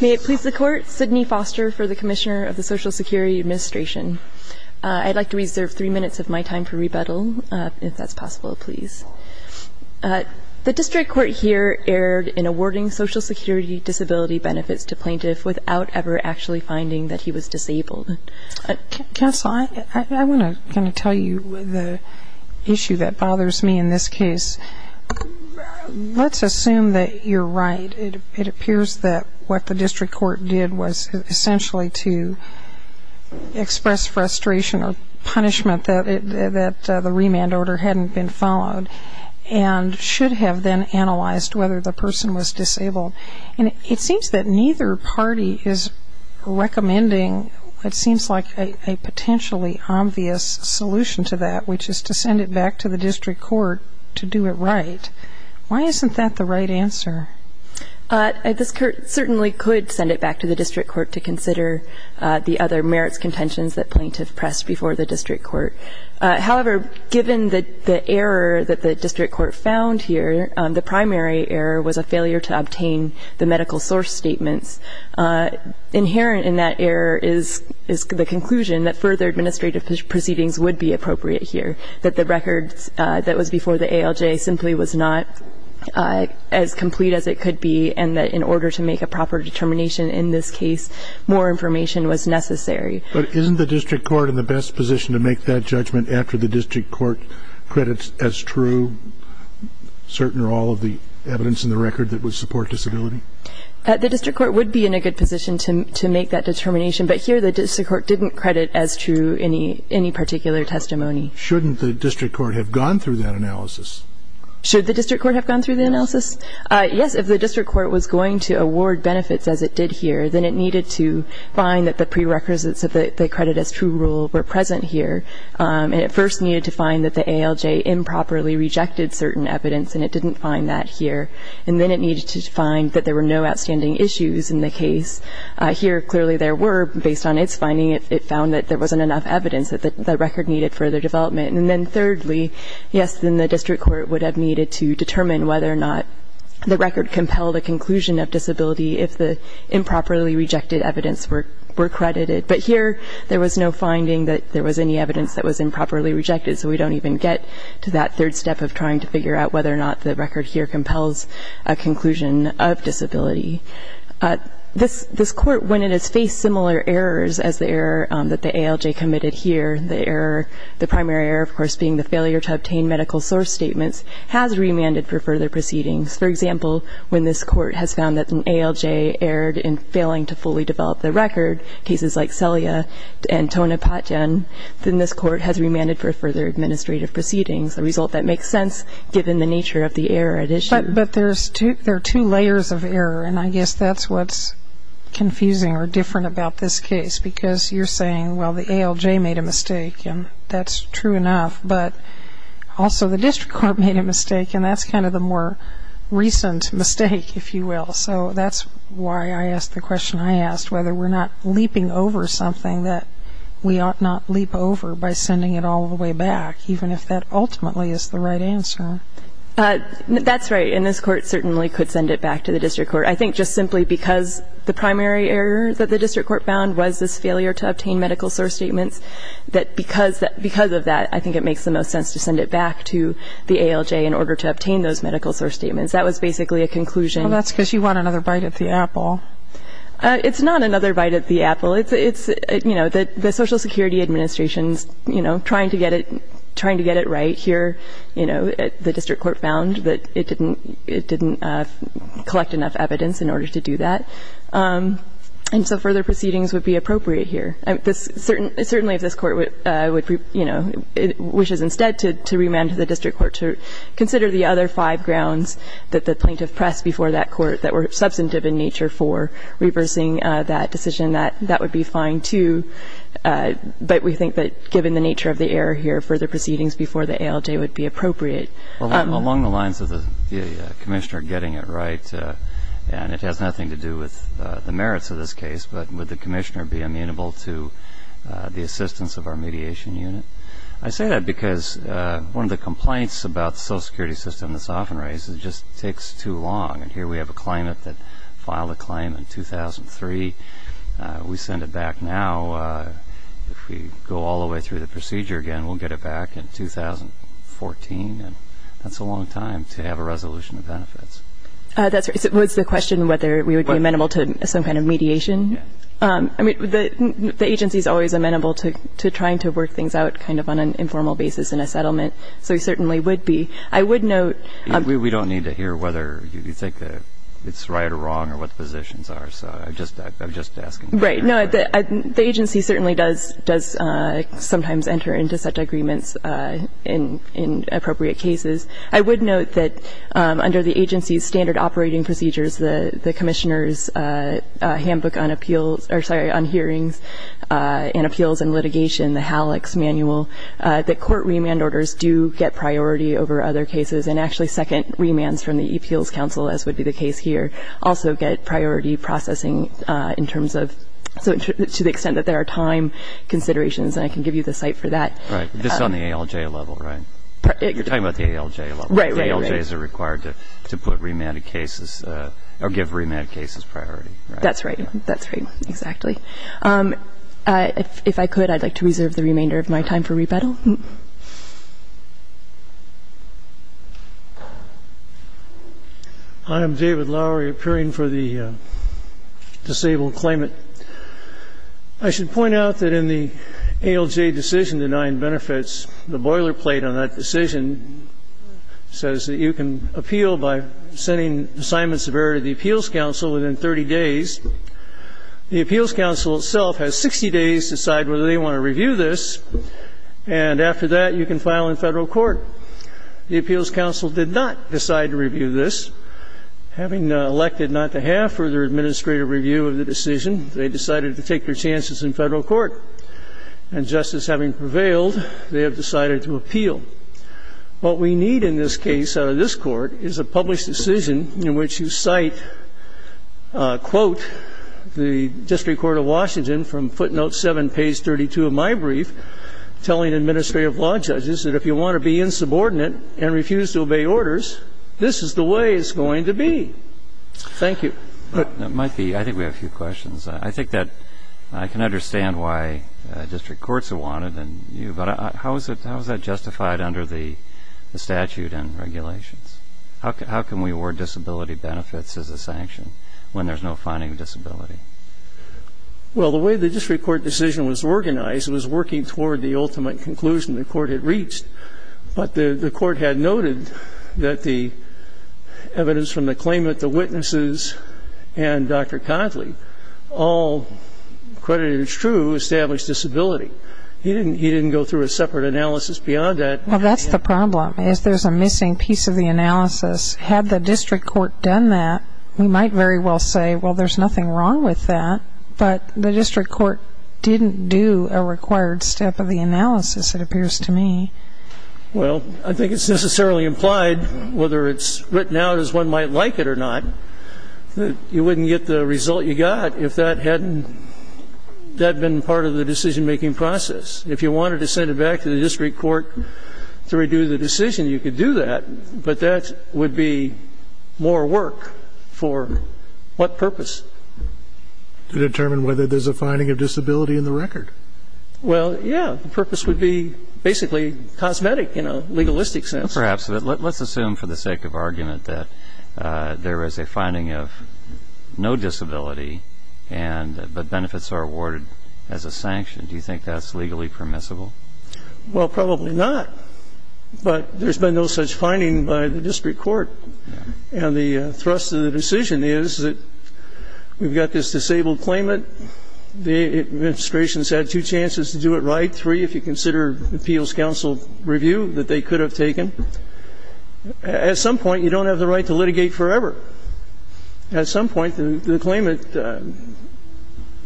May it please the Court, Sidney Foster for the Commissioner of the Social Security Administration. I'd like to reserve three minutes of my time for rebuttal, if that's possible, please. The District Court here erred in awarding Social Security disability benefits to plaintiffs without ever actually finding that he was disabled. Counsel, I want to kind of tell you the issue that bothers me in this case. Let's assume that you're right. It appears that what the District Court did was essentially to express frustration or punishment that the remand order hadn't been followed and should have then analyzed whether the person was disabled. And it seems that neither party is recommending what seems like a potentially obvious solution to that, which is to send it back to the District Court to do it right. Why isn't that the right answer? This certainly could send it back to the District Court to consider the other merits contentions that plaintiffs pressed before the District Court. However, given the error that the District Court found here, the primary error was a failure to obtain the medical source statements. Inherent in that error is the conclusion that further administrative proceedings would be appropriate here, that the records that was before the ALJ simply was not as complete as it could be and that in order to make a proper determination in this case, more information was necessary. But isn't the District Court in the best position to make that judgment after the District Court credits as true certain or all of the evidence in the record that would support disability? The District Court would be in a good position to make that determination, but here the District Court didn't credit as true any particular testimony. Shouldn't the District Court have gone through that analysis? Should the District Court have gone through the analysis? Yes, if the District Court was going to award benefits as it did here, then it needed to find that the prerequisites of the credit as true rule were present here. And it first needed to find that the ALJ improperly rejected certain evidence, and it didn't find that here. And then it needed to find that there were no outstanding issues in the case. Here, clearly there were. Based on its finding, it found that there wasn't enough evidence, that the record needed further development. And then thirdly, yes, then the District Court would have needed to determine whether or not the record compelled a conclusion of disability if the improperly rejected evidence were credited. But here there was no finding that there was any evidence that was improperly rejected, so we don't even get to that third step of trying to figure out whether or not the record here compels a conclusion of disability. This Court, when it has faced similar errors as the error that the ALJ committed here, the error, the primary error, of course, being the failure to obtain medical source statements, has remanded for further proceedings. For example, when this Court has found that an ALJ erred in failing to fully develop the record, cases like Celia and Tona Patjen, then this Court has remanded for further administrative proceedings, a result that makes sense given the nature of the error at issue. But there are two layers of error, and I guess that's what's confusing or different about this case, because you're saying, well, the ALJ made a mistake, and that's true enough. But also the district court made a mistake, and that's kind of the more recent mistake, if you will. So that's why I asked the question I asked, whether we're not leaping over something that we ought not leap over by sending it all the way back, even if that ultimately is the right answer. That's right, and this Court certainly could send it back to the district court. I think just simply because the primary error that the district court found was this failure to obtain medical source statements, that because of that, I think it makes the most sense to send it back to the ALJ in order to obtain those medical source statements. That was basically a conclusion. Well, that's because you want another bite at the apple. It's not another bite at the apple. It's, you know, the Social Security Administration's, you know, trying to get it right here. You know, the district court found that it didn't collect enough evidence in order to do that. And so further proceedings would be appropriate here. Certainly if this Court would, you know, wishes instead to remand to the district court to consider the other five grounds that the plaintiff pressed before that Court that were substantive in nature for reversing that decision, that would be fine, too. But we think that given the nature of the error here, further proceedings before the ALJ would be appropriate. Along the lines of the Commissioner getting it right, and it has nothing to do with the merits of this case, but would the Commissioner be amenable to the assistance of our mediation unit? I say that because one of the complaints about the Social Security system that's often raised is it just takes too long. And here we have a claimant that filed a claim in 2003. We send it back now. If we go all the way through the procedure again, we'll get it back in 2014. And that's a long time to have a resolution of benefits. That's right. It was the question whether we would be amenable to some kind of mediation. I mean, the agency is always amenable to trying to work things out kind of on an informal basis in a settlement. So we certainly would be. I would note we don't need to hear whether you think it's right or wrong or what the positions are. So I'm just asking. Right. No, the agency certainly does sometimes enter into such agreements in appropriate cases. I would note that under the agency's standard operating procedures, the Commissioner's handbook on hearings and appeals and litigation, the HALEX manual, that court remand orders do get priority over other cases and actually second remands from the appeals council, as would be the case here, also get priority processing in terms of to the extent that there are time considerations. And I can give you the site for that. Right. This is on the ALJ level, right? You're talking about the ALJ level. Right, right, right. ALJs are required to put remanded cases or give remanded cases priority. That's right. That's right. Exactly. If I could, I'd like to reserve the remainder of my time for rebuttal. I am David Lowery, appearing for the disabled claimant. I should point out that in the ALJ decision denying benefits, the boilerplate on that decision says that you can appeal by sending assignments of error to the appeals council within 30 days. The appeals council itself has 60 days to decide whether they want to review this, and after that, you can file in Federal court. The appeals council did not decide to review this. Having elected not to have further administrative review of the decision, they decided to take their chances in Federal court. And just as having prevailed, they have decided to appeal. What we need in this case out of this court is a published decision in which you cite, quote, the district court of Washington from footnote 7, page 32 of my brief, telling administrative law judges that if you want to be insubordinate and refuse to obey orders, this is the way it's going to be. Thank you. It might be. I think we have a few questions. I think that I can understand why district courts have wanted you, but how is that justified under the statute and regulations? How can we award disability benefits as a sanction when there's no finding of disability? Well, the way the district court decision was organized, it was working toward the ultimate conclusion the court had reached. But the court had noted that the evidence from the claimant, the witnesses, and Dr. Conatly, all credited as true, established disability. He didn't go through a separate analysis beyond that. Well, that's the problem is there's a missing piece of the analysis. Had the district court done that, we might very well say, well, there's nothing wrong with that. But the district court didn't do a required step of the analysis, it appears to me. Well, I think it's necessarily implied, whether it's written out as one might like it or not, that you wouldn't get the result you got if that hadn't been part of the decision-making process. If you wanted to send it back to the district court to redo the decision, you could do that, but that would be more work for what purpose? To determine whether there's a finding of disability in the record. Well, yeah. The purpose would be basically cosmetic in a legalistic sense. Perhaps. But let's assume for the sake of argument that there is a finding of no disability, but benefits are awarded as a sanction. Do you think that's legally permissible? Well, probably not. But there's been no such finding by the district court. And the thrust of the decision is that we've got this disabled claimant, and the administration has had two chances to do it right, three if you consider appeals counsel review that they could have taken. At some point, you don't have the right to litigate forever. At some point, the claimant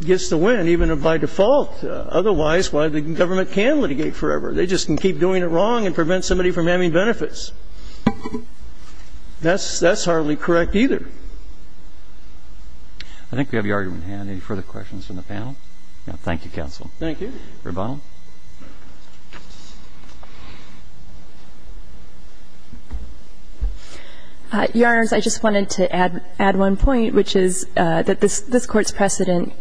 gets to win, even by default. Otherwise, why, the government can litigate forever. They just can keep doing it wrong and prevent somebody from having benefits. That's hardly correct either. I think we have your argument in hand. Any further questions from the panel? Thank you, counsel. Thank you. Your Honor, I just wanted to add one point, which is that this Court's precedent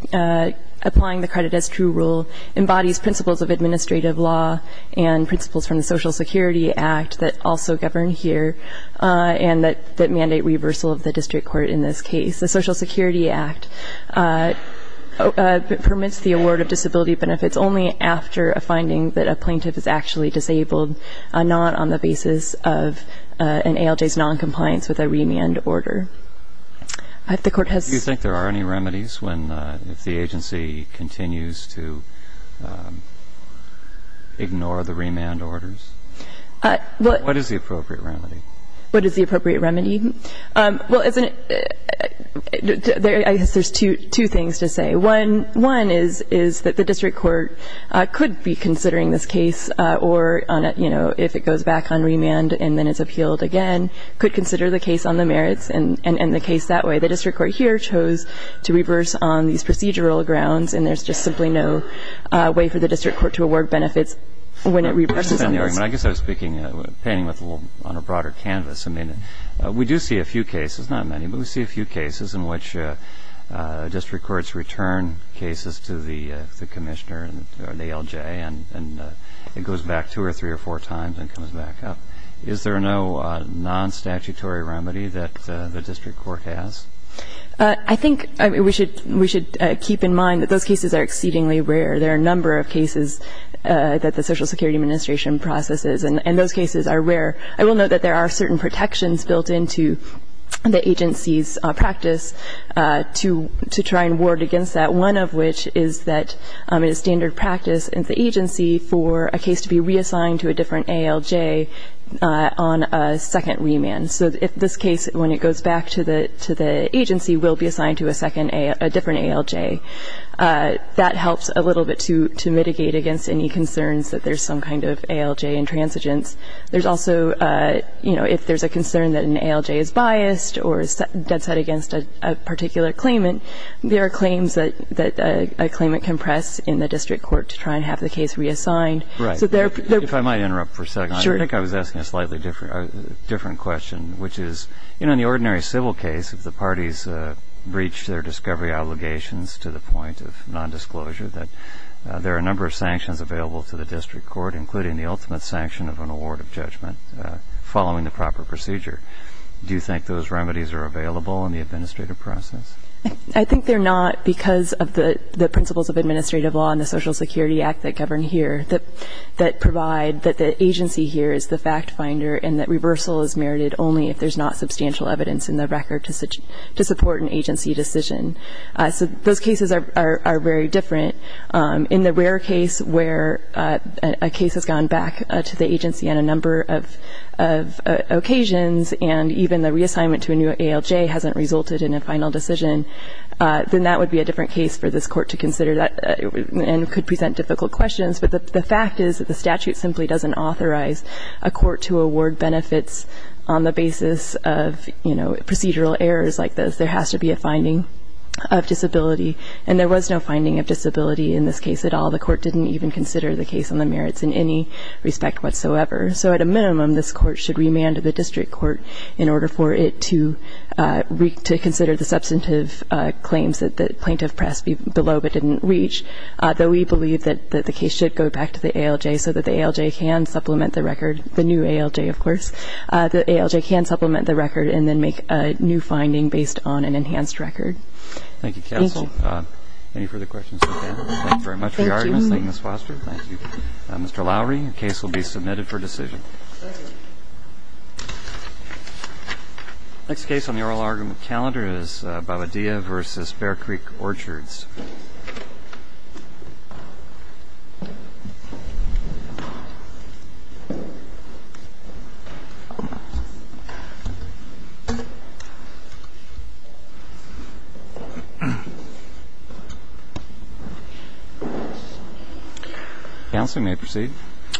applying the credit as true rule embodies principles of administrative law and principles from the Social Security Act that also govern here and that mandate reversal of the district court in this case. The Social Security Act permits the award of disability benefits only after a finding that a plaintiff is actually disabled, not on the basis of an ALJ's noncompliance with a remand order. Do you think there are any remedies if the agency continues to ignore the remand orders? What is the appropriate remedy? What is the appropriate remedy? Well, there's two things to say. One is that the district court could be considering this case or, you know, if it goes back on remand and then it's appealed again, could consider the case on the merits and end the case that way. The district court here chose to reverse on these procedural grounds, and there's just simply no way for the district court to award benefits when it reverses. I guess I was speaking, painting on a broader canvas. I mean, we do see a few cases, not many, but we see a few cases in which district courts return cases to the commissioner or the ALJ and it goes back two or three or four times and comes back up. Is there no non-statutory remedy that the district court has? I think we should keep in mind that those cases are exceedingly rare. There are a number of cases that the Social Security Administration processes, and those cases are rare. I will note that there are certain protections built into the agency's practice to try and ward against that, one of which is that a standard practice in the agency for a case to be reassigned to a different ALJ on a second remand. So if this case, when it goes back to the agency, will be assigned to a different ALJ, that helps a little bit to mitigate against any concerns that there's some kind of ALJ intransigence. There's also, you know, if there's a concern that an ALJ is biased or is dead set against a particular claimant, there are claims that a claimant can press in the district court to try and have the case reassigned. Right. If I might interrupt for a second. Sure. I think I was asking a slightly different question, which is, you know, in the ordinary civil case, if the parties breach their discovery obligations to the point of nondisclosure, that there are a number of sanctions available to the district court, including the ultimate sanction of an award of judgment following the proper procedure. Do you think those remedies are available in the administrative process? I think they're not because of the principles of administrative law and the Social Security Act that govern here that provide that the agency here is the fact finder and that reversal is merited only if there's not substantial evidence in the record to support an agency decision. So those cases are very different. In the rare case where a case has gone back to the agency on a number of occasions and even the reassignment to a new ALJ hasn't resulted in a final decision, then that would be a different case for this court to consider and could present difficult questions. But the fact is that the statute simply doesn't authorize a court to award benefits on the basis of procedural errors like this. There has to be a finding of disability, and there was no finding of disability in this case at all. The court didn't even consider the case on the merits in any respect whatsoever. So at a minimum, this court should remand to the district court in order for it to consider the substantive claims that the plaintiff pressed below but didn't reach, though we believe that the case should go back to the ALJ so that the ALJ can supplement the record, the new ALJ, of course. The ALJ can supplement the record and then make a new finding based on an enhanced record. Thank you, counsel. Thank you. Any further questions? Thank you very much for your arguments. Thank you, Ms. Foster. Thank you. Mr. Lowery, your case will be submitted for decision. Thank you. The next case on the oral argument calendar is Babadea v. Bear Creek Orchards. Counsel, you may proceed.